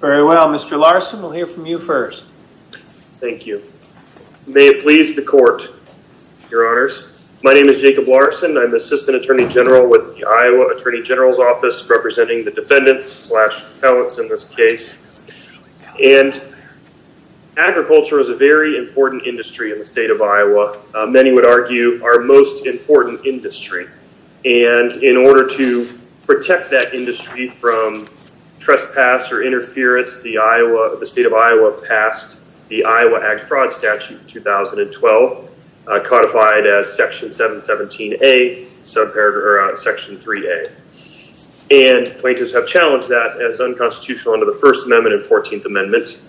Very well. Mr. Larson, we'll hear from you first. Thank you. May it please the court, your honors. My name is Jacob Larson. I'm the Assistant Attorney General with the Iowa Attorney General's Office representing the defendants slash appellants in this case. And agriculture is a very important industry in the state of Iowa. Many would argue our most the state of Iowa passed the Iowa Ag Fraud Statute 2012, codified as Section 717A, Section 3A. And plaintiffs have challenged that as unconstitutional under the First Amendment and 14th Amendment.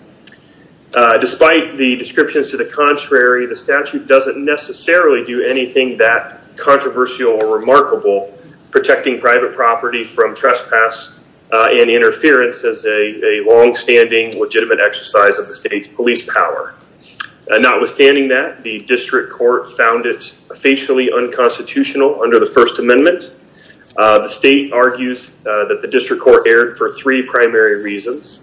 Despite the descriptions to the contrary, the statute doesn't necessarily do anything that controversial or remarkable, protecting private property from trespass and interference as a longstanding legitimate exercise of the state's police power. Notwithstanding that, the district court found it officially unconstitutional under the First Amendment. The state argues that the district court erred for three primary reasons.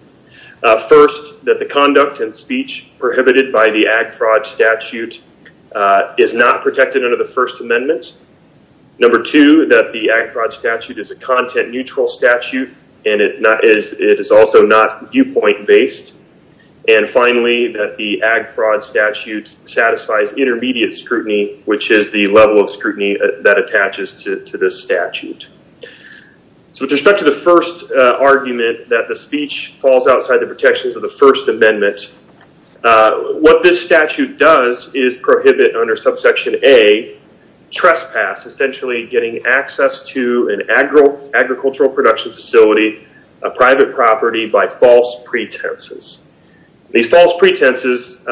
First, that the conduct and speech prohibited by the Ag Fraud Statute is not protected under the First Amendment. Number two, that the Ag Fraud Statute is a content neutral statute and it is also not viewpoint based. And finally, that the Ag Fraud Statute satisfies intermediate scrutiny, which is the level of scrutiny that attaches to this statute. So with respect to the first argument that the speech falls outside the protections of the First Amendment, what this statute does is prohibit under subsection A, trespass, essentially getting access to an agricultural production facility, a private property by false pretenses. These false pretenses,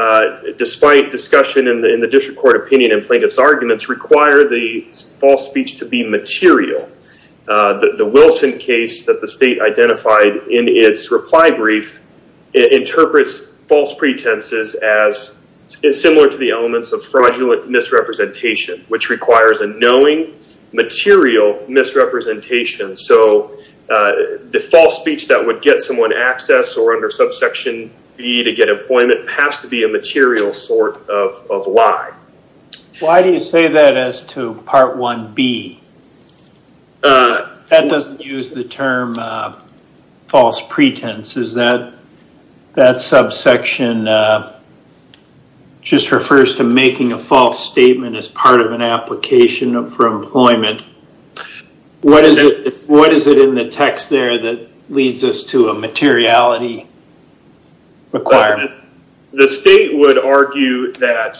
despite discussion in the district court opinion and plaintiff's arguments, require the false speech to be material. The Wilson case that the state identified in its reply brief, it interprets false pretenses as similar to the elements of fraudulent misrepresentation, which requires a knowing, material misrepresentation. So the false speech that would get someone access or under subsection B to get employment has to be a material sort of lie. Why do you say that as to part 1B? That doesn't use the term false pretense. Is that subsection just refers to making a false statement as part of an application for employment? What is it in the text there that leads us to a materiality requirement? The state would argue that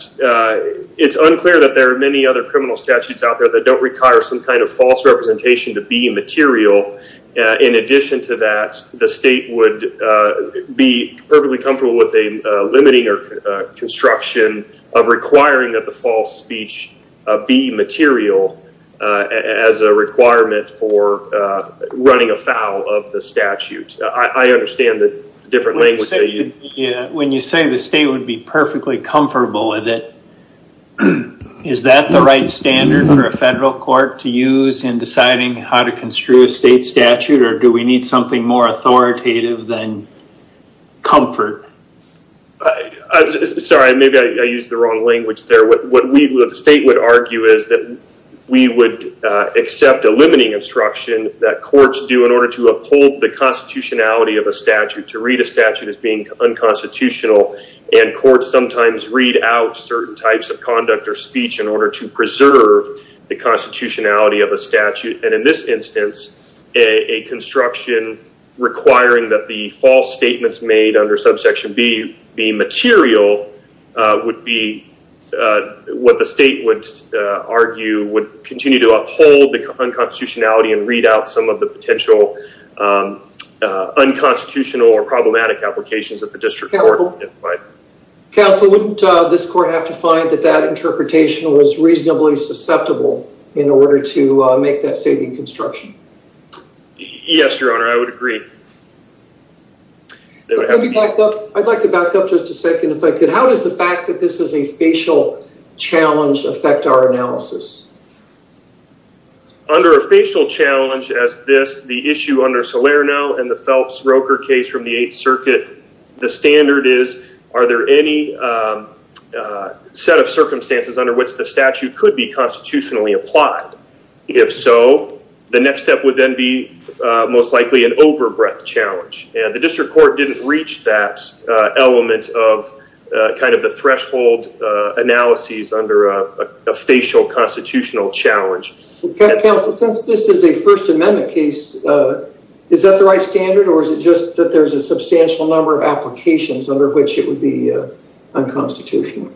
it's unclear that there are many other criminal statutes out there that don't require some kind of false representation to be material. In addition to that, the state would be perfectly comfortable with a limiting construction of requiring that the false speech be material as a requirement for running afoul of the statute. I understand the language. When you say the state would be perfectly comfortable with it, is that the right standard for a federal court to use in deciding how to construe a state statute, or do we need something more authoritative than comfort? Sorry, maybe I used the wrong language there. What the state would argue is that we would accept a limiting instruction that courts do in constitutionality of a statute to read a statute as being unconstitutional, and courts sometimes read out certain types of conduct or speech in order to preserve the constitutionality of a statute. In this instance, a construction requiring that the false statements made under subsection B be material would be what the state would argue would continue to uphold the unconstitutionality and read out some of the potential unconstitutional or problematic applications that the district court would identify. Counsel, wouldn't this court have to find that that interpretation was reasonably susceptible in order to make that state in construction? Yes, your honor, I would agree. I'd like to back up just a second if I could. How does the fact that this is a facial challenge affect our analysis? Under a facial challenge as this, the issue under Salerno and the Phelps-Roker case from the Eighth Circuit, the standard is, are there any set of circumstances under which the statute could be constitutionally applied? If so, the next step would then be most likely an overbreadth challenge, and the district court didn't reach that element of kind of the threshold analyses under a facial constitutional challenge. Counsel, since this is a First Amendment case, is that the right standard or is it just that there's a substantial number of applications under which it would be unconstitutional?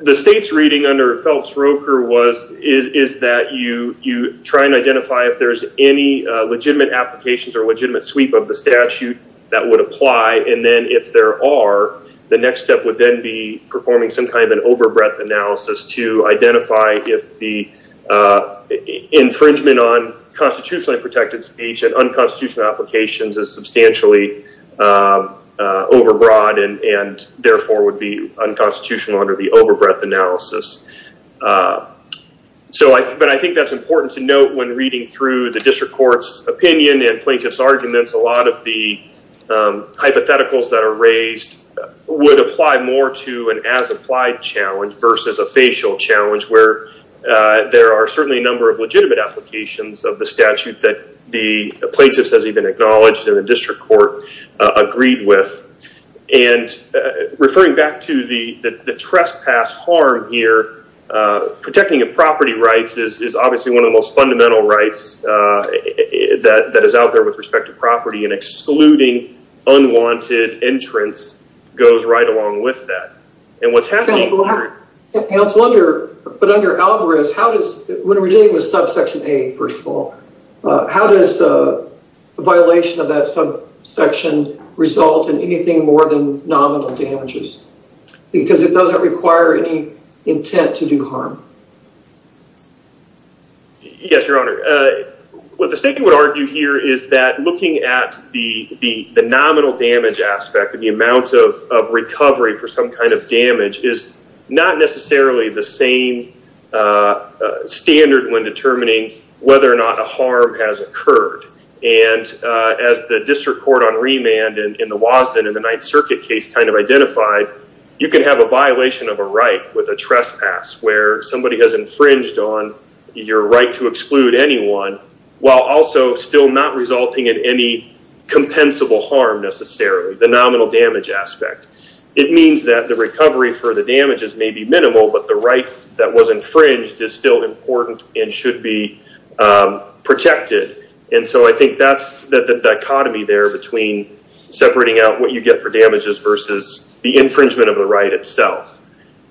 The state's reading under Phelps-Roker was, is that you try and identify if there's any legitimate applications or legitimate sweep of the statute that would apply, and then if there are, the next step would then be performing some kind of an overbreadth analysis to identify if the infringement on constitutionally protected speech and unconstitutional applications is substantially overbroad and therefore would be unconstitutional under the overbreadth analysis. But I think that's important to note when reading through the district court's opinion and plaintiff's arguments. A lot of the hypotheticals that are raised would apply more to an as-applied challenge versus a facial challenge where there are certainly a number of legitimate applications of the statute that the plaintiffs has even acknowledged and the district court agreed with. And referring back to the trespass harm here, protecting of property rights is obviously one of the most fundamental rights that is out there with respect to property, and excluding unwanted entrants goes right along with that. And what's happening... Counsel, under, but under Alvarez, how does, when we're dealing with subsection A, first of all, how does a violation of that subsection result in anything more than nominal damages? Because it doesn't require any intent to do harm. Yes, your honor. What the statement would argue here is that looking at the nominal damage aspect of the amount of recovery for some kind of damage is not necessarily the same standard when a trespass or an infringement of property has occurred. And as the district court on remand in the Wasden in the Ninth Circuit case kind of identified, you can have a violation of a right with a trespass where somebody has infringed on your right to exclude anyone while also still not resulting in any compensable harm necessarily, the nominal damage aspect. It means that the recovery for the damages may be minimal, but the right that was infringed is still important and should be protected. And so I think that's the dichotomy there between separating out what you get for damages versus the infringement of the right itself.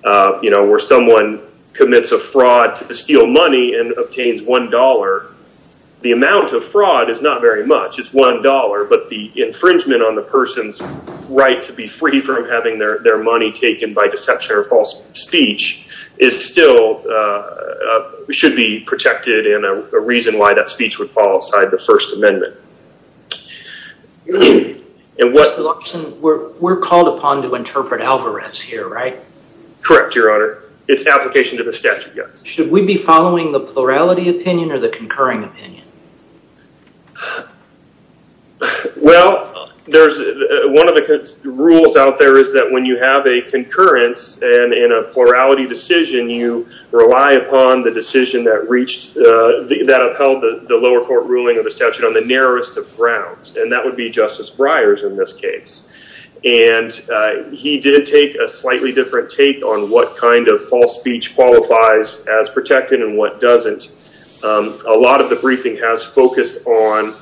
You know, where someone commits a fraud to steal money and obtains $1, the amount of fraud is not very much. It's $1, but the infringement on the person's right to be free from having their money taken by deception or false speech is still, should be protected in a reason why that speech would fall aside the First Amendment. Mr. Luxton, we're called upon to interpret Alvarez here, right? Correct, your honor. It's application to the statute, yes. Should we be following the plurality opinion or the concurring opinion? Well, there's, one of the rules out there is that when you have a concurrence and in a plurality decision, you rely upon the decision that reached, that upheld the lower court ruling of the statute on the narrowest of grounds. And that would be Justice Breyers in this case. And he did take a slightly different take on what kind of false speech qualifies as protected and what doesn't. A lot of the briefing has focused on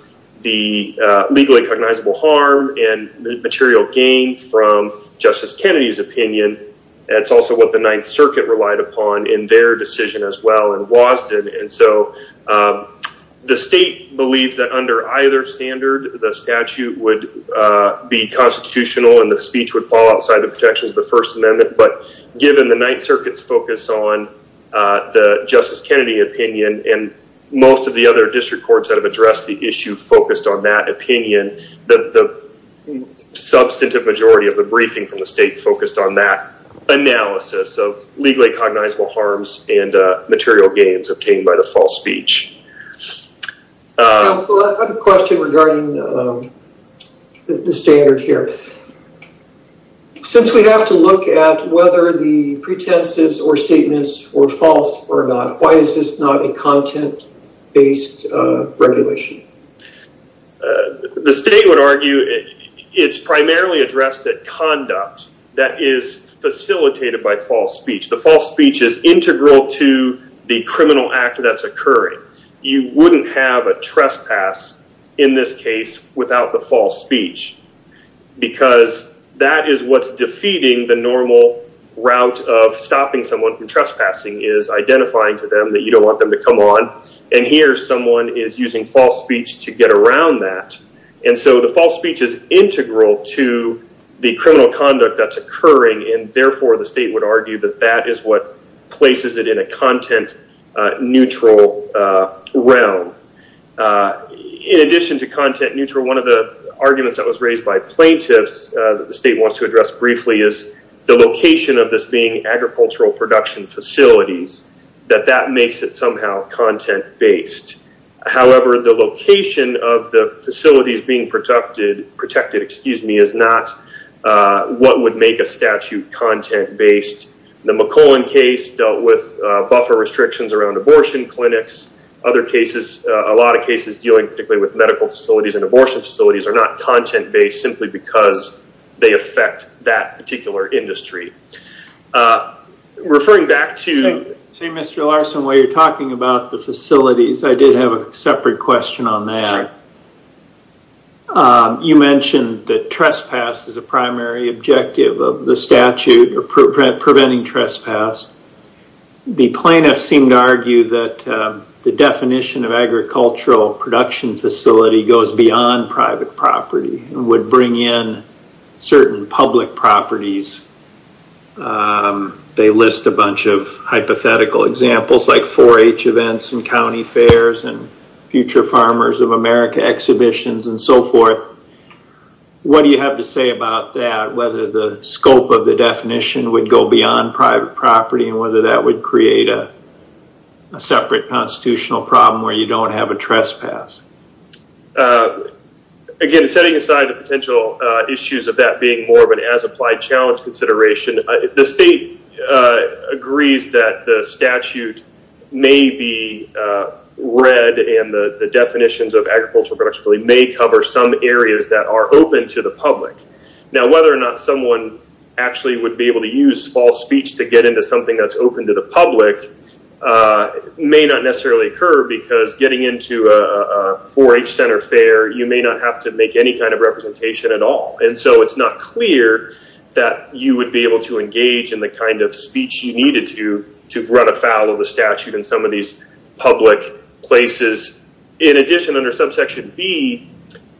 the legally cognizable harm and material gain from Justice Kennedy's opinion. It's also what the Ninth Circuit relied upon in their decision as well in Wasden. And so the state believed that under either standard, the statute would be constitutional and the speech would fall outside the protections of the First Amendment. But given the Ninth Circuit's on the Justice Kennedy opinion and most of the other district courts that have addressed the issue focused on that opinion, the substantive majority of the briefing from the state focused on that analysis of legally cognizable harms and material gains obtained by the false speech. Counselor, I have a question regarding the standard here. Since we have to look at whether the pretenses or statements were false or not, why is this not a content-based regulation? The state would argue it's primarily addressed at conduct that is facilitated by false speech. The false speech is integral to the criminal act that's occurring. You wouldn't have a trespass in this case without the false speech. Because that is what's defeating the normal route of stopping someone from trespassing is identifying to them that you don't want them to come on. And here someone is using false speech to get around that. And so the false speech is integral to the criminal conduct that's occurring. And therefore, the state would argue that that is places it in a content-neutral realm. In addition to content-neutral, one of the arguments that was raised by plaintiffs that the state wants to address briefly is the location of this being agricultural production facilities, that that makes it somehow content-based. However, the location of the facilities being protected is not what would make a statute content-based. The McClellan case dealt with buffer restrictions around abortion clinics. Other cases, a lot of cases dealing particularly with medical facilities and abortion facilities are not content-based simply because they affect that particular industry. Referring back to... So, Mr. Larson, while you're talking about the facilities, I did have a separate question on that. Sure. You mentioned that trespass is a primary objective of the statute or preventing trespass. The plaintiffs seem to argue that the definition of agricultural production facility goes beyond private property and would bring in certain public properties. They list a bunch of hypothetical examples like 4-H events and county fairs and Future Farmers of America exhibitions and so forth. What do you have to say about that, whether the scope of the definition would go beyond private property and whether that would create a separate constitutional problem where you don't have a trespass? Again, setting aside the potential issues of that being more of an applied challenge consideration, the state agrees that the statute may be read and the definitions of agricultural production facility may cover some areas that are open to the public. Whether or not someone actually would be able to use false speech to get into something that's open to the public may not necessarily occur because getting into a 4-H center fair, you may not have to make any kind of representation at all. It's not clear that you would be able to engage in the kind of speech you needed to run afoul of the statute in some of these public places. In addition, under subsection B,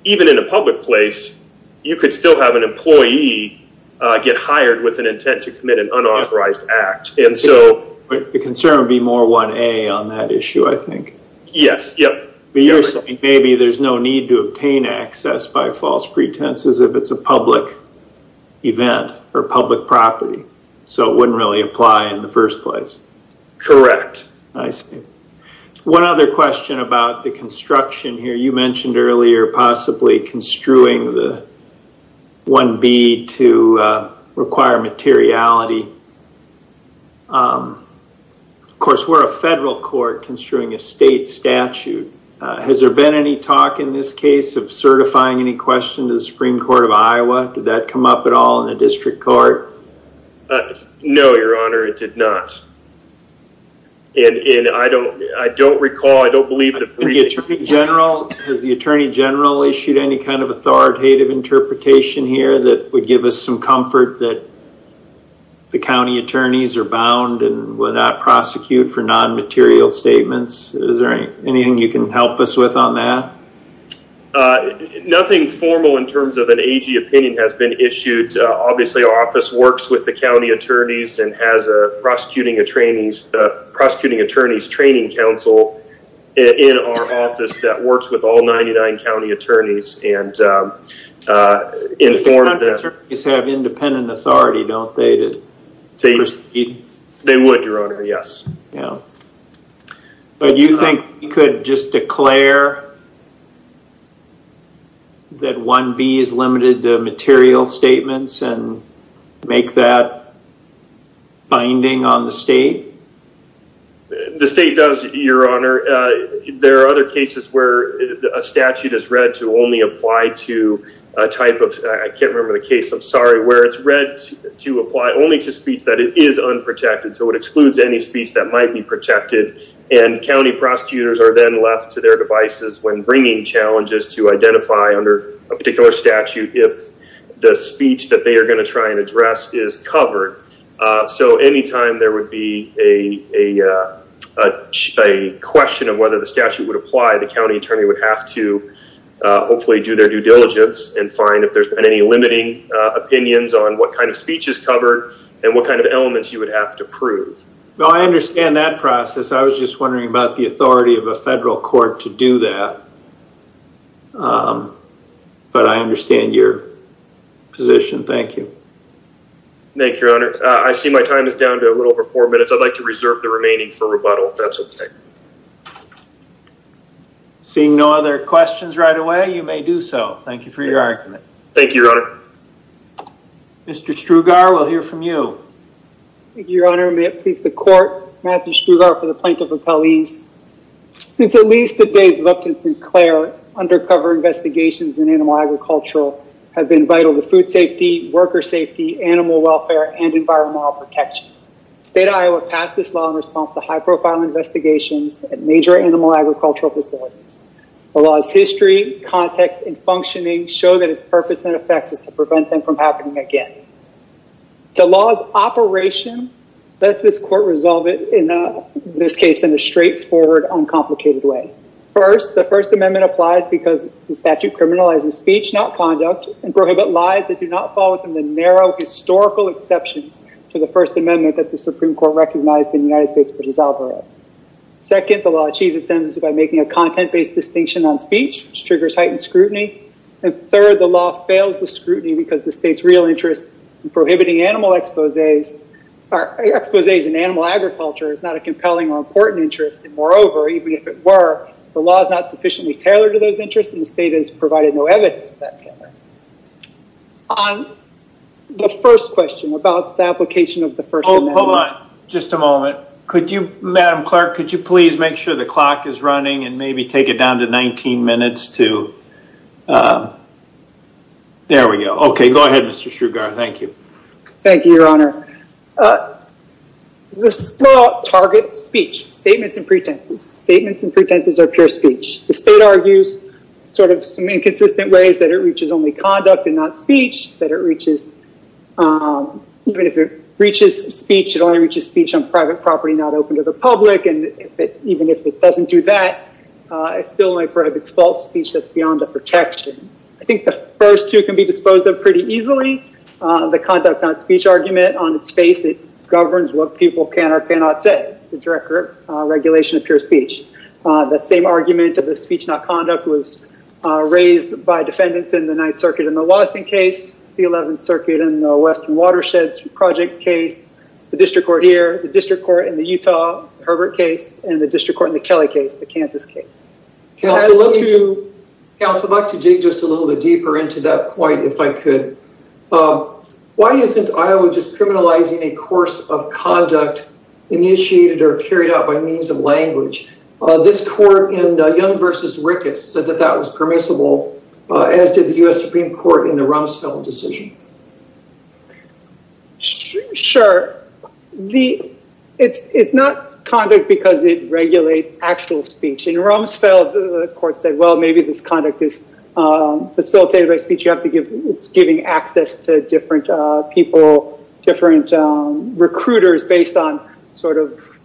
even in a public place, you could still have an employee get hired with an intent to commit an unauthorized act. The concern would be more 1A on that issue, I think. Yes. You're saying maybe there's no need to obtain access by false pretenses if it's a public event or public property. It wouldn't really apply in the first place. Correct. I see. One other question about the construction here. You mentioned earlier possibly construing the 1B to require materiality. Of course, we're a federal court construing a state statute. Has there been any talk in this case of certifying any question to the Supreme Court of Iowa? Did that come up at all in the district court? No, Your Honor, it did not. I don't recall, I don't believe the briefings. Has the Attorney General issued any kind of authoritative interpretation here that would give us some comfort that the county attorneys are bound and will not prosecute for non-material statements? Is there anything you can help us with on that? Nothing formal in terms of an AG opinion has been issued. Obviously, our office works with the county attorneys and has a Prosecuting Attorneys Training Council in our office that works with all 99 county attorneys. The county attorneys have independent authority, don't they? They would, Your Honor, yes. You think we could just declare that 1B is limited to material statements and make that binding on the state? The state does, Your Honor. There are other cases where a statute is read to only apply to a type of, I can't remember the case, I'm sorry, where it's read to apply only to speech that is unprotected, so it excludes any speech that might be protected and county prosecutors are then left to their devices when bringing challenges to identify under a particular statute if the speech that they are going to try and address is covered. So any time there would be a question of whether the statute would apply, the county attorney would have to hopefully do their due diligence and find if there's been any limiting opinions on what kind of speech is covered and what kind of elements you would have to prove. Well, I understand that process. I was just wondering about the authority of a federal court to do that, but I understand your position. Thank you. Thank you, Your Honor. I see my time is down to a little over four minutes. I'd like to reserve the remaining for rebuttal if that's okay. Seeing no other questions right away, you may do so. Thank you for your argument. Thank you, Your Honor. Mr. Strugar, we'll hear from you. Thank you, Your Honor. May it please the court, Matthew Strugar for the Plaintiff Appellees. Since at least the days of Upton Sinclair, undercover investigations in animal agriculture have been vital to food safety, worker safety, animal welfare, and environmental protection. The state of Iowa passed this law in response to high-profile investigations at major animal agricultural facilities. The law's history, context, and functioning show that its purpose and effect is to prevent them from happening again. The law's operation lets this court resolve it, in this case, in a straightforward, uncomplicated way. First, the First Amendment applies because the statute criminalizes speech, not conduct, and prohibit lies that do not fall within the narrow historical exceptions to the First Amendment that the Supreme Court recognized in the United States versus Alvarez. Second, the law achieves its sentence by making a content-based distinction on speech, which triggers heightened scrutiny. And third, the law fails the scrutiny because the state's real prohibiting animal exposés in animal agriculture is not a compelling or important interest, and moreover, even if it were, the law is not sufficiently tailored to those interests, and the state has provided no evidence of that. On the first question about the application of the First Amendment... Hold on. Just a moment. Madam Clerk, could you please make sure the clock is on? Thank you. Thank you, Your Honor. This law targets speech, statements and pretenses. Statements and pretenses are pure speech. The state argues, sort of, some inconsistent ways that it reaches only conduct and not speech, that it reaches... Even if it reaches speech, it only reaches speech on private property not open to the public, and even if it doesn't do that, it's still only prohibits false speech that's beyond the protection. I think the first two can be disposed of pretty easily. The conduct not speech argument, on its face, it governs what people can or cannot say. It's a direct regulation of pure speech. That same argument of the speech not conduct was raised by defendants in the Ninth Circuit in the Lawson case, the Eleventh Circuit in the Western Watersheds Project case, the District Court here, the District Court in the Utah Herbert case, and the District Court in the Kelly case, the Kansas case. Counsel, I'd like to dig a little bit deeper into that point if I could. Why isn't Iowa just criminalizing a course of conduct initiated or carried out by means of language? This court in Young v. Ricketts said that that was permissible, as did the U.S. Supreme Court in the Rumsfeld decision. Sure. It's not conduct because it regulates actual speech. In Rumsfeld, the court said, maybe this conduct is facilitated by speech. It's giving access to different people, different recruiters based on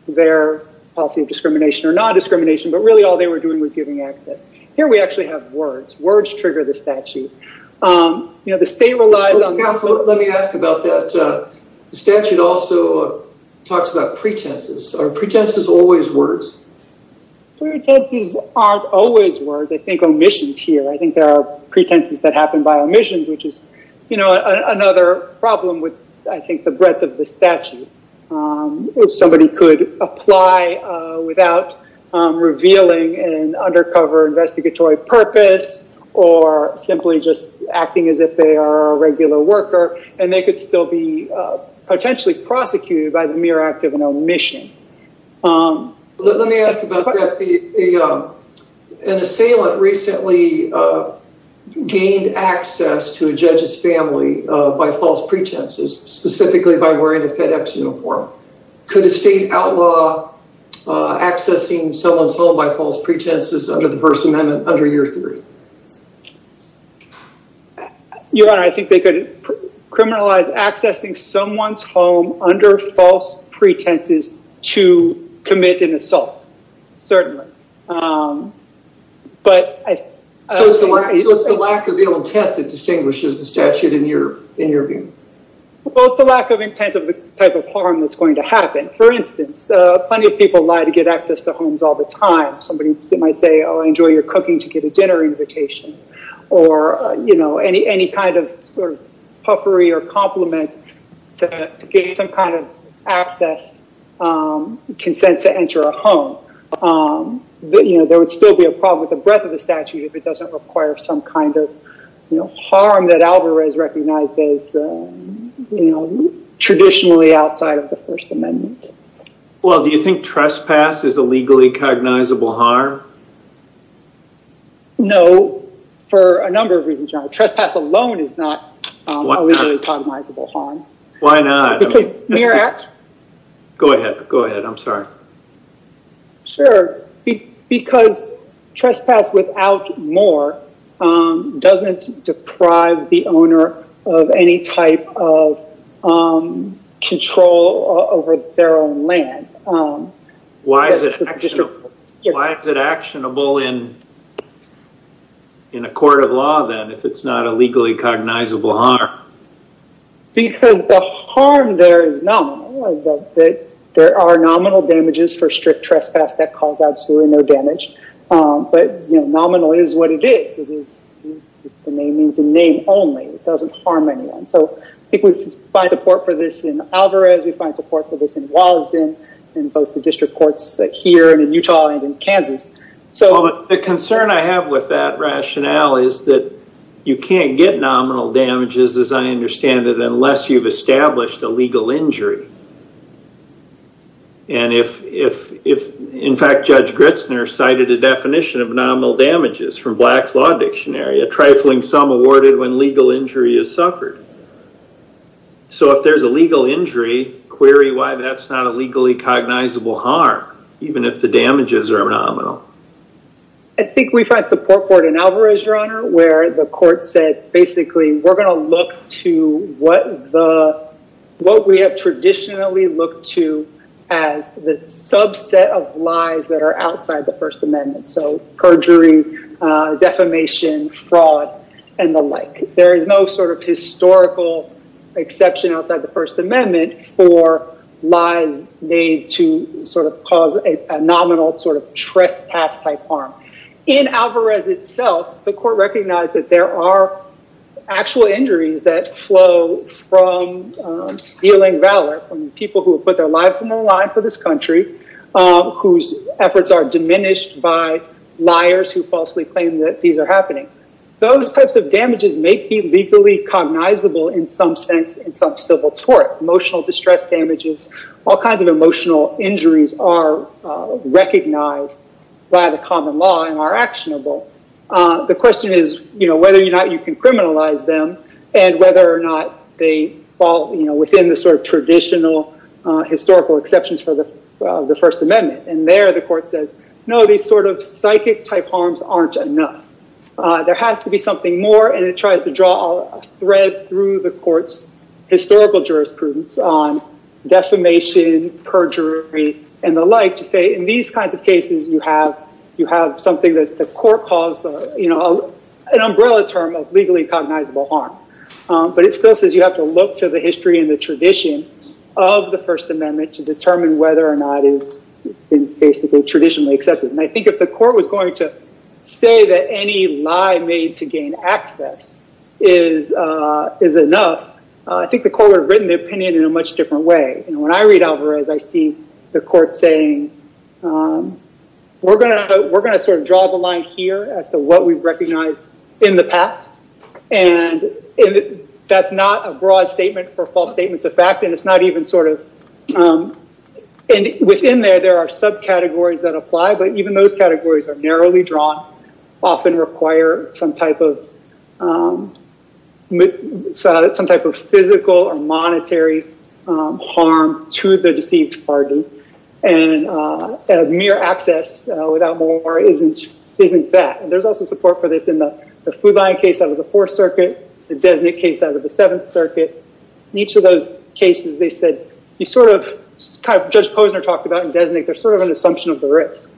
their policy of discrimination or non-discrimination. Really, all they were doing was giving access. Here, we actually have words. Words trigger the statute. The state relies on- Counsel, let me ask about that. The statute also talks about pretenses. Are pretenses always words? Pretenses aren't always words. I think omissions here. I think there are pretenses that happen by omissions, which is another problem with I think the breadth of the statute. If somebody could apply without revealing an undercover investigatory purpose or simply just acting as if they are a regular worker and they could still be prosecuted by the mere act of an omission. Let me ask about that. An assailant recently gained access to a judge's family by false pretenses, specifically by wearing a FedEx uniform. Could a state outlaw accessing someone's home by false pretenses under the First Amendment under your theory? Your Honor, I think they could criminalize accessing someone's home under false pretenses to commit an assault, certainly. It's the lack of intent that distinguishes the statute in your view. It's the lack of intent of the type of harm that's going to happen. For instance, plenty of people lie to get access to homes all the time. Somebody might say I enjoy your cooking to get a dinner invitation or any kind of puffery or compliment to get some kind of access, consent to enter a home. There would still be a problem with the breadth of the statute if it doesn't require some kind of harm that Alvarez recognized as traditionally outside of the First Amendment. Well, do you think trespass is a legally cognizable harm? No. For a number of reasons. Trespass alone is not a legally cognizable harm. Why not? Go ahead. I'm sorry. Sure. Because trespass without more doesn't deprive the owner of any type of control over their own land. Why is it actionable in a court of law, then, if it's not a legally cognizable harm? Because the harm there is nominal. There are nominal damages for strict trespass that cause absolutely no damage. Nominal is what it is. The name means a name only. It doesn't harm anyone. We find support for this in Alvarez. We find support for this in Wasden, in both the district courts here and in Utah and in Kansas. The concern I have with that rationale is that you can't get nominal damages, as I understand it, unless you've established a legal injury. In fact, Judge Gritzner cited a definition of nominal damages from Black's Law Dictionary, a trifling sum awarded when legal injury is suffered. If there's a legal injury, query why that's not a legally cognizable harm, even if the damages are nominal. I think we find support for it in Alvarez, Your Honor, where the court said, basically, we're going to look to what we have traditionally looked to as the subset of lies that are outside the First Amendment, so perjury, defamation, fraud, and the like. There is no historical exception outside the First Amendment for lies made to cause a nominal trespass-type harm. In Alvarez itself, the court recognized that there are actual injuries that flow from stealing valor from people who have put their lives on the line for this country, whose efforts are diminished by liars who falsely claim that these are happening. Those types of damages may be legally cognizable in some sense in some civil tort. Emotional distress damages, all kinds of emotional injuries are recognized by the common law and are actionable. The question is whether or not you can criminalize them, and whether or not they fall within the traditional historical exceptions for the First Amendment. There, the court says, no, these psychic-type harms aren't enough. There has to be something more, and it tries to draw a thread through the court's historical jurisprudence on defamation, perjury, and the like to say, in these kinds of cases, you have something that the court calls an umbrella term of legally cognizable harm. But it still says you have to look to the history and the tradition of the First Amendment to determine whether or not it's been traditionally accepted. I think if the court was going to say that any lie made to gain access is enough, I think the court would have written the opinion in a much different way. When I read Alvarez, I see the and that's not a broad statement for false statements of fact, and it's not even sort of, and within there, there are subcategories that apply, but even those categories are narrowly drawn, often require some type of physical or monetary harm to the deceived party, and mere access without more isn't that. And there's also support for this in the Fuline case out of the Fourth Circuit, the Desnick case out of the Seventh Circuit. In each of those cases, they said, you sort of, kind of, Judge Posner talked about in Desnick, there's sort of an assumption of the risk.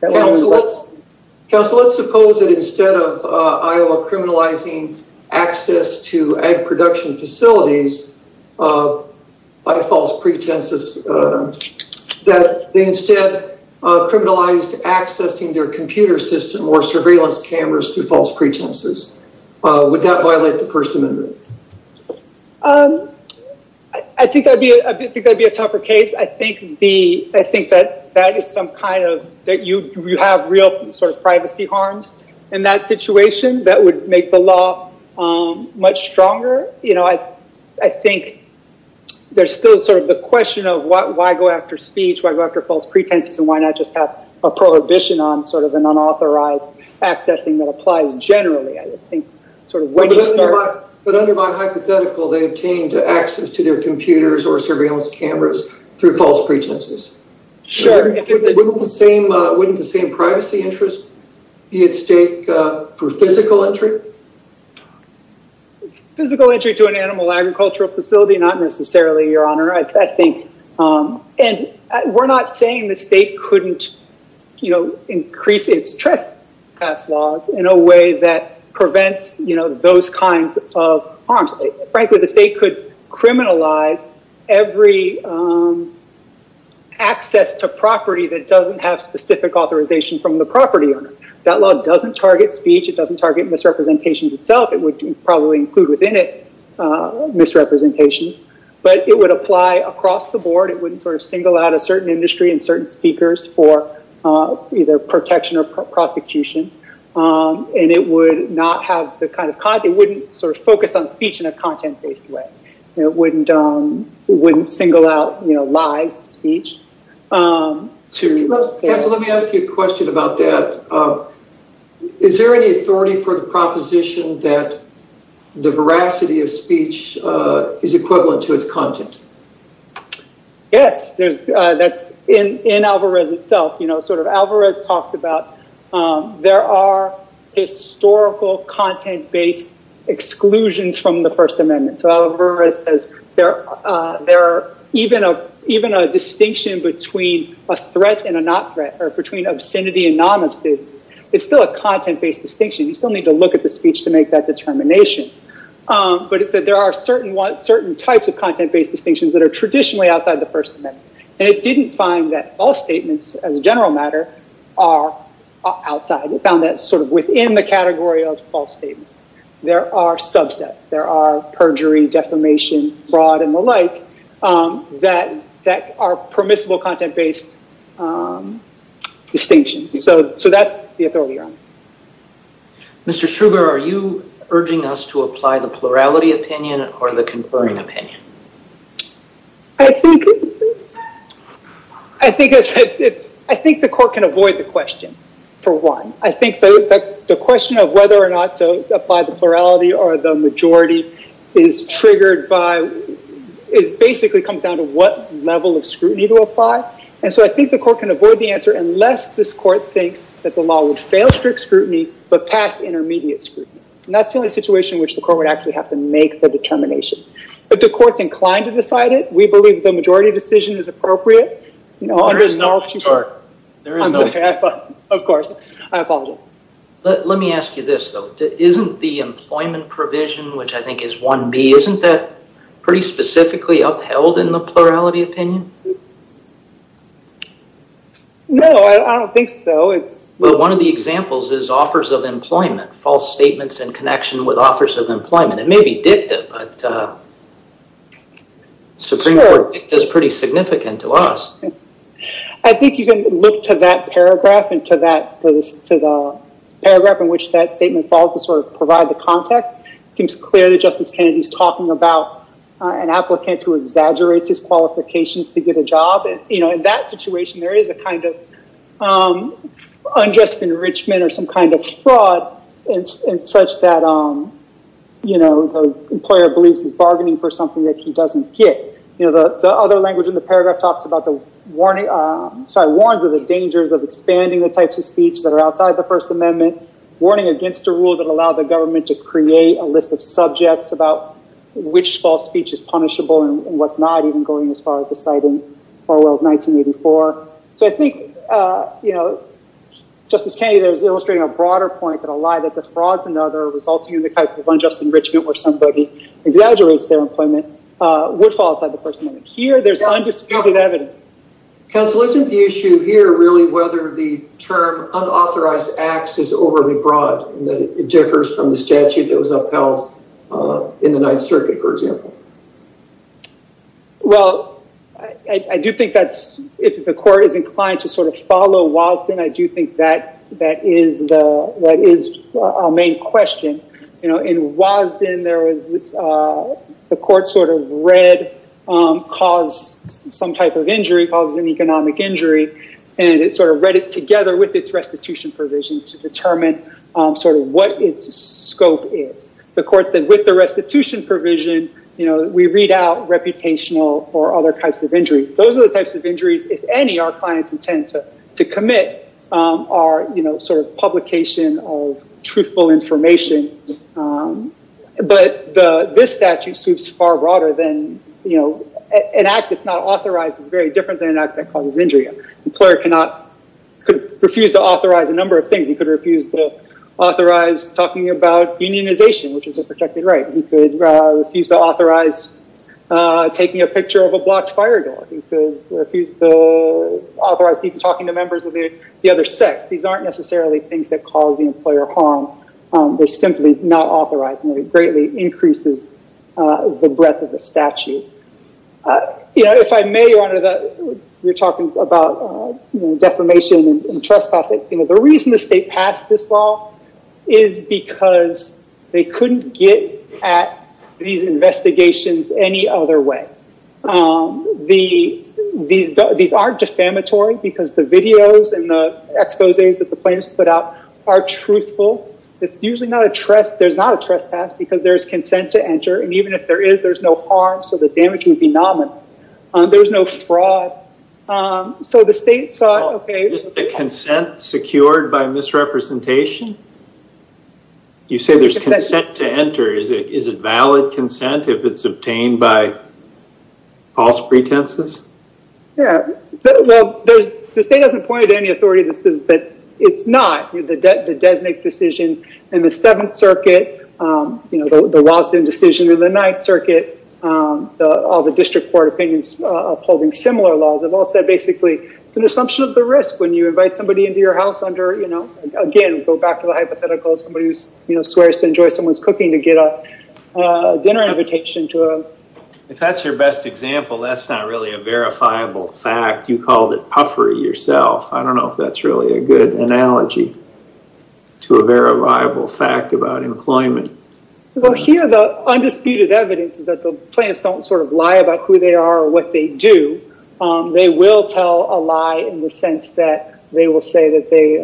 Counsel, let's suppose that instead of Iowa criminalizing access to ag production facilities by false pretenses, that they instead criminalized accessing their computer system or surveillance cameras through false pretenses. Would that violate the First Amendment? I think that would be a tougher case. I think that is some kind of, that you have real sort in that situation that would make the law much stronger. You know, I think there's still sort of the question of why go after speech, why go after false pretenses, and why not just have a prohibition on sort of an unauthorized accessing that applies generally, I think. But under my hypothetical, they obtained access to their computers or surveillance cameras through false pretenses. Sure. Wouldn't the same privacy interest be at stake for physical entry? Physical entry to an animal agricultural facility, not necessarily, Your Honor, I think. And we're not saying the state couldn't, you know, increase its trespass laws in a way that would allow access to property that doesn't have specific authorization from the property owner. That law doesn't target speech. It doesn't target misrepresentation itself. It would probably include within it misrepresentations. But it would apply across the board. It wouldn't sort of single out a certain industry and certain speakers for either protection or prosecution. And it would not have the kind of, it wouldn't sort of focus on speech in a content-based way. It wouldn't single out, you know, lies, speech. Let me ask you a question about that. Is there any authority for the proposition that the veracity of speech is equivalent to its content? Yes. That's in Alvarez itself. You know, sort of Alvarez talks about there are historical content-based exclusions from the First Amendment. So Alvarez says there are even a distinction between a threat and a not threat or between obscenity and non-obscenity. It's still a content-based distinction. You still need to look at the speech to make that determination. But it said there are certain types of content-based distinctions that are traditionally outside the First Amendment. And it didn't find that all statements as a general matter are outside. It found that sort of within the category of false statements. There are subsets. There are perjury, defamation, fraud, and the like that are permissible content-based distinctions. So that's the authority on it. Mr. Schruber, are you urging us to apply the plurality opinion or the conferring opinion? I think the court can avoid the question, for one. I think the question of whether or not to apply the plurality or the majority is triggered by, is basically comes down to what level of scrutiny to apply. And so I think the court can avoid the answer unless this court thinks that the law would fail strict scrutiny but pass intermediate scrutiny. And that's the only situation in which the court would actually have to make the determination. But the court is inclined to decide it. We believe the majority decision is appropriate. Of course. I apologize. Let me ask you this, though. Isn't the employment provision, which I think is 1B, isn't that pretty specifically upheld in the plurality opinion? No, I don't think so. Well, one of the examples is offers of employment, false statements in connection with offers of employment. It may be dicta, but Supreme Court dicta is pretty significant to us. I think you can look to that paragraph and to the paragraph in which that statement falls to sort of provide the context. It seems clear that Justice Kennedy is talking about an applicant who exaggerates his qualifications to get a job. In that situation, there is a kind of unjust enrichment or some kind of fraud in such that, you know, the employer believes he's bargaining for something that he doesn't get. You know, the other language in the paragraph talks about the warning, sorry, warns of the dangers of expanding the types of speech that are outside the First Amendment, warning against a rule that allowed the government to create a list of subjects about which false speech is punishable and what's not, even going as far as deciding Orwell's 1984. So, I think, you know, Justice Kennedy is trying to imply that the frauds and other resulting in the type of unjust enrichment where somebody exaggerates their employment would fall outside the First Amendment. Here, there's undisputed evidence. Counsel, isn't the issue here really whether the term unauthorized acts is overly broad and that it differs from the statute that was upheld in the Ninth Circuit, for example? Well, I do think that's, if the court is inclined to sort of follow Wosden, I do think that that is the main question. You know, in Wosden, there was this, the court sort of read, caused some type of injury, caused an economic injury, and it sort of read it together with its restitution provision to determine sort of what its scope is. The court said with the restitution provision, you know, we read out reputational or other types of injuries. Those are the types of injuries, if any, our clients intend to commit are, you know, sort of publication of truthful information. But this statute sweeps far broader than, you know, an act that's not authorized is very different than an act that causes injury. An employer could refuse to authorize a number of things. He could refuse to authorize talking about unionization, which is a protected right. He could refuse to authorize taking a picture of a blocked fire door. He could refuse to authorize even talking to members of the other sect. These aren't necessarily things that cause the employer harm. They're simply not authorized, and it greatly increases the breadth of the statute. You know, if I may, Your Honor, you're talking about defamation and trespassing. You know, the reason the state passed this law is because they couldn't get at these investigations any other way. These are defamatory because the videos and the exposes that the plaintiffs put out are truthful. It's usually not a trespass because there's consent to enter, and even if there is, there's no harm, so the damage would be nominal. There's no fraud. So the state saw, okay. Is the consent secured by misrepresentation? You say there's consent to enter. Is it valid consent if it's obtained by false pretenses? Yeah. Well, the state hasn't pointed to any authority that says that it's not. The Desnick decision in the Seventh Circuit, you know, the Lawson decision in the Ninth Circuit, all the district court opinions upholding similar laws have all said, basically, it's an assumption of the risk when you invite somebody into your house under, you know, again, go back to the hypothetical of somebody who, you know, invitation to a... If that's your best example, that's not really a verifiable fact. You called it puffery yourself. I don't know if that's really a good analogy to a verifiable fact about employment. Well, here the undisputed evidence is that the plaintiffs don't sort of lie about who they are or what they do. They will tell a lie in the sense that they will say that they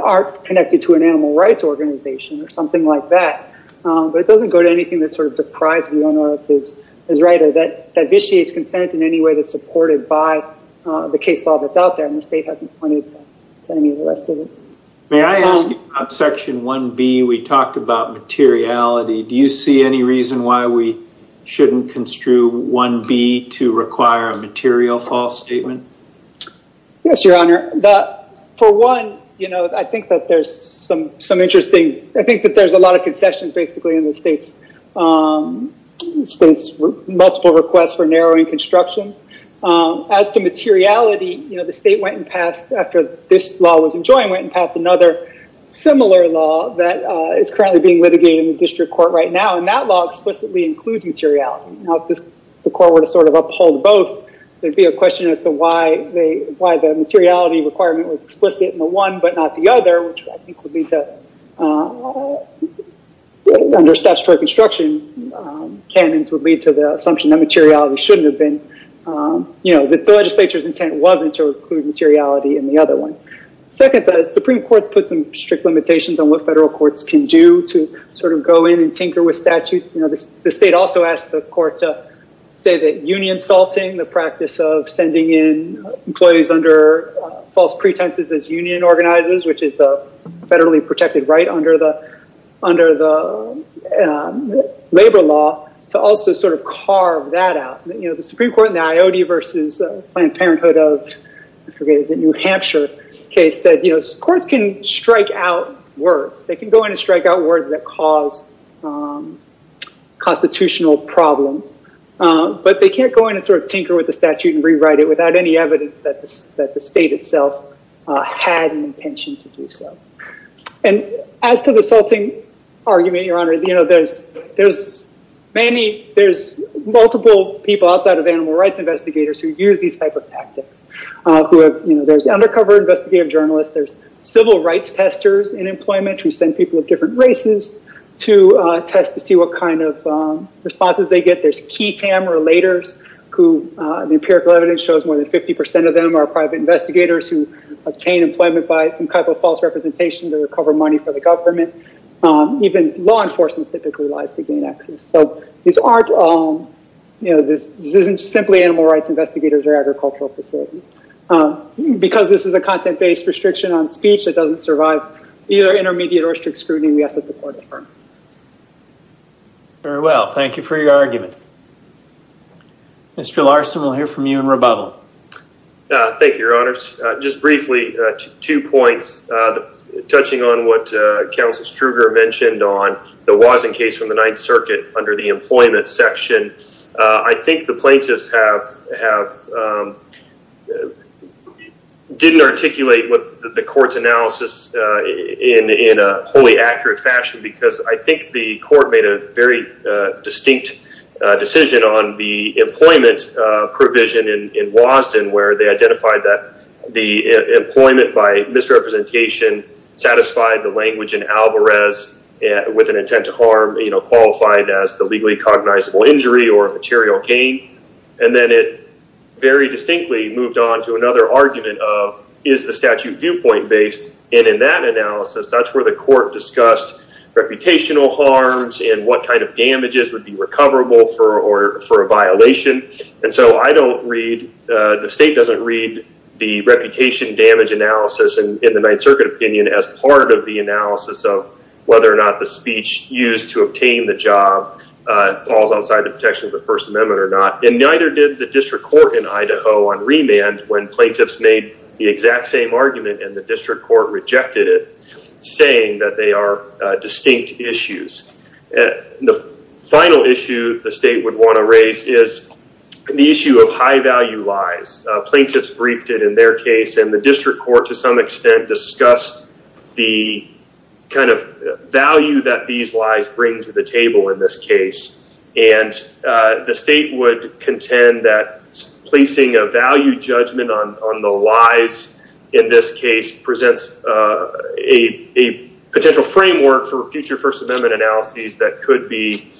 are connected to an animal rights organization or something like that, but it doesn't go to anything that sort of deprives the owner of his right or that vitiates consent in any way that's supported by the case law that's out there, and the state hasn't pointed to any of the rest of it. May I ask you about Section 1B? We talked about materiality. Do you see any reason why we shouldn't construe 1B to require a material false statement? Yes, Your Honor. For one, you know, I think that there's some interesting... I think that there's a lot of concessions basically in the state's multiple requests for narrowing constructions. As to materiality, you know, the state went and passed, after this law was enjoined, went and passed another similar law that is currently being litigated in the district court right now, and that law explicitly includes materiality. Now, if the court were to sort of uphold both, there'd be a question as to why the materiality requirement was explicit in the one but not the other, which I think would lead to... under statutory construction, canons would lead to the assumption that materiality shouldn't have been... you know, that the legislature's intent wasn't to include materiality in the other one. Second, the Supreme Court's put some strict limitations on what federal courts can do to sort of go in and tinker with statutes. The state also asked the court to say that union salting, the practice of sending in employees under false pretenses as union organizers, which is a federally protected right under the labor law, to also sort of carve that out. You know, the Supreme Court in the IoD versus Planned Parenthood of, I forget, New Hampshire case said, you know, courts can strike out words. They can go in and strike out words that cause constitutional problems, but they can't go in and sort of tinker with the statute and rewrite it without any evidence that the state itself had an intention to do so. And as to the salting argument, Your Honor, you know, there's multiple people outside of animal rights investigators who use these type of tactics. There's undercover investigative journalists. There's civil rights testers in employment who send people of different races to test to see what kind of responses they get. There's KETAM relators, who the empirical evidence shows more than 50 percent of them are private investigators who obtain employment by some type of false representation to recover money for the government. Even law enforcement typically lies to gain access. So these aren't, you know, this isn't simply animal rights investigators or agricultural facilities. Because this is a content-based restriction on speech that doesn't survive either intermediate or strict scrutiny, we ask that the court affirm. Very well. Thank you for your argument. Mr. Larson, we'll hear from you in rebuttal. Thank you, Your Honor. Just briefly, two points. Touching on what Counsel Struger mentioned on the Wasink case from the Ninth Circuit under the employment section, I think the plaintiffs have didn't articulate the court's analysis in a wholly accurate fashion because I think the court made a very distinct decision on the employment provision in Wastin, where they identified that the employment by misrepresentation satisfied the language in Alvarez with an intent to harm, you know, qualified as the legally cognizable injury or material gain. And then it very distinctly moved on to another argument of, is the statute viewpoint-based? And in that analysis, that's where the court discussed reputational harms and what kind of damages would be recoverable for a violation. And so I don't read, the state doesn't read the reputation damage analysis in the Ninth Circuit opinion as part of the analysis of whether or not the speech used to obtain the job falls outside the protection of the First Amendment or not. And neither did the district court in Idaho on remand when plaintiffs made the exact same argument and the district court rejected it, saying that they are distinct issues. The final issue the state would want to raise is the issue of high-value lies. Plaintiffs briefed it in their case and the district court to some extent discussed the kind of value that these lies bring to the table in this case. And the state would contend that placing a value judgment on the lies in this case presents a potential framework for future First Amendment analyses that could be,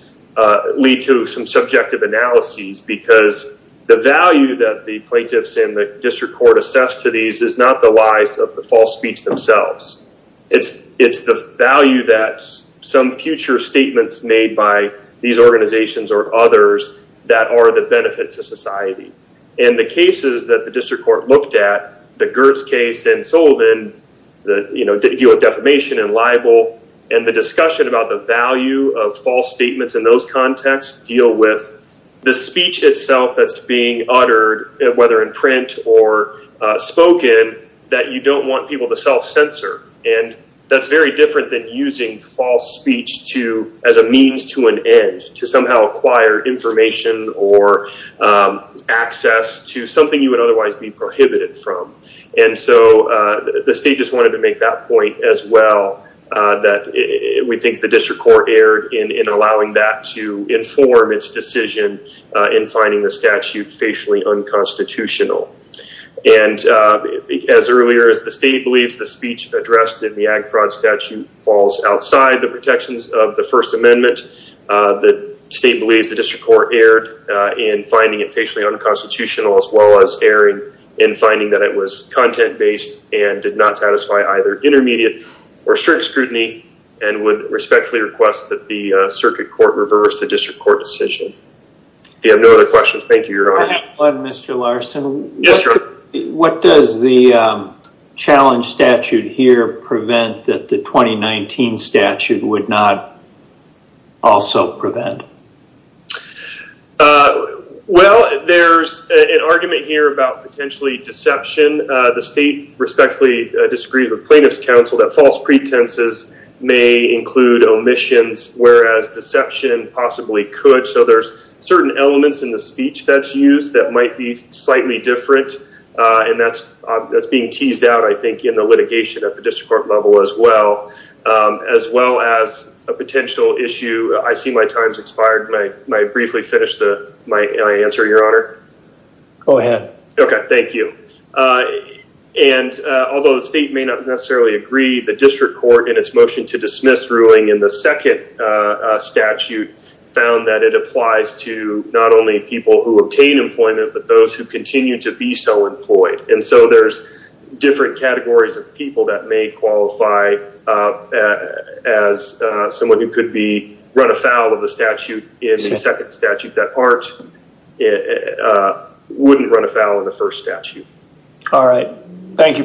lead to some subjective analyses because the value that the plaintiffs and the district court assess to these is not the lies of the false speech themselves. It's the value that some future statements made by these organizations or others that are the benefit to society. And the cases that the district court looked at, the Gertz case and Sullivan, the, you know, deal with defamation and libel and the discussion about the value of false print or spoken that you don't want people to self-censor. And that's very different than using false speech to, as a means to an end, to somehow acquire information or access to something you would otherwise be prohibited from. And so the state just wanted to make that point as well, that we think the district court erred in allowing that to inform its decision in finding the statute facially unconstitutional. And as earlier as the state believes the speech addressed in the Ag Fraud statute falls outside the protections of the First Amendment, the state believes the district court erred in finding it facially unconstitutional as well as erring in finding that it was content-based and did not satisfy either intermediate or strict scrutiny and would respectfully request that the circuit court reverse the statute. If you have no other questions, thank you. Mr. Larson. Yes, sir. What does the challenge statute here prevent that the 2019 statute would not also prevent? Well, there's an argument here about potentially deception. The state respectfully disagrees with plaintiff's counsel that false pretenses may include omissions, whereas deception possibly could. So there's certain elements in the speech that's used that might be slightly different. And that's being teased out, I think, in the litigation at the district court level as well, as well as a potential issue. I see my time's expired. May I briefly finish my answer, your honor? Go ahead. Okay, thank you. And although the state may not necessarily agree, the district court in its motion to dismiss ruling in the second statute found that it applies to not only people who obtain employment, but those who continue to be so employed. And so there's different categories of people that may qualify as someone who could run afoul of the statute in the second statute that wouldn't run afoul of the first statute. All right. Thank you for your time.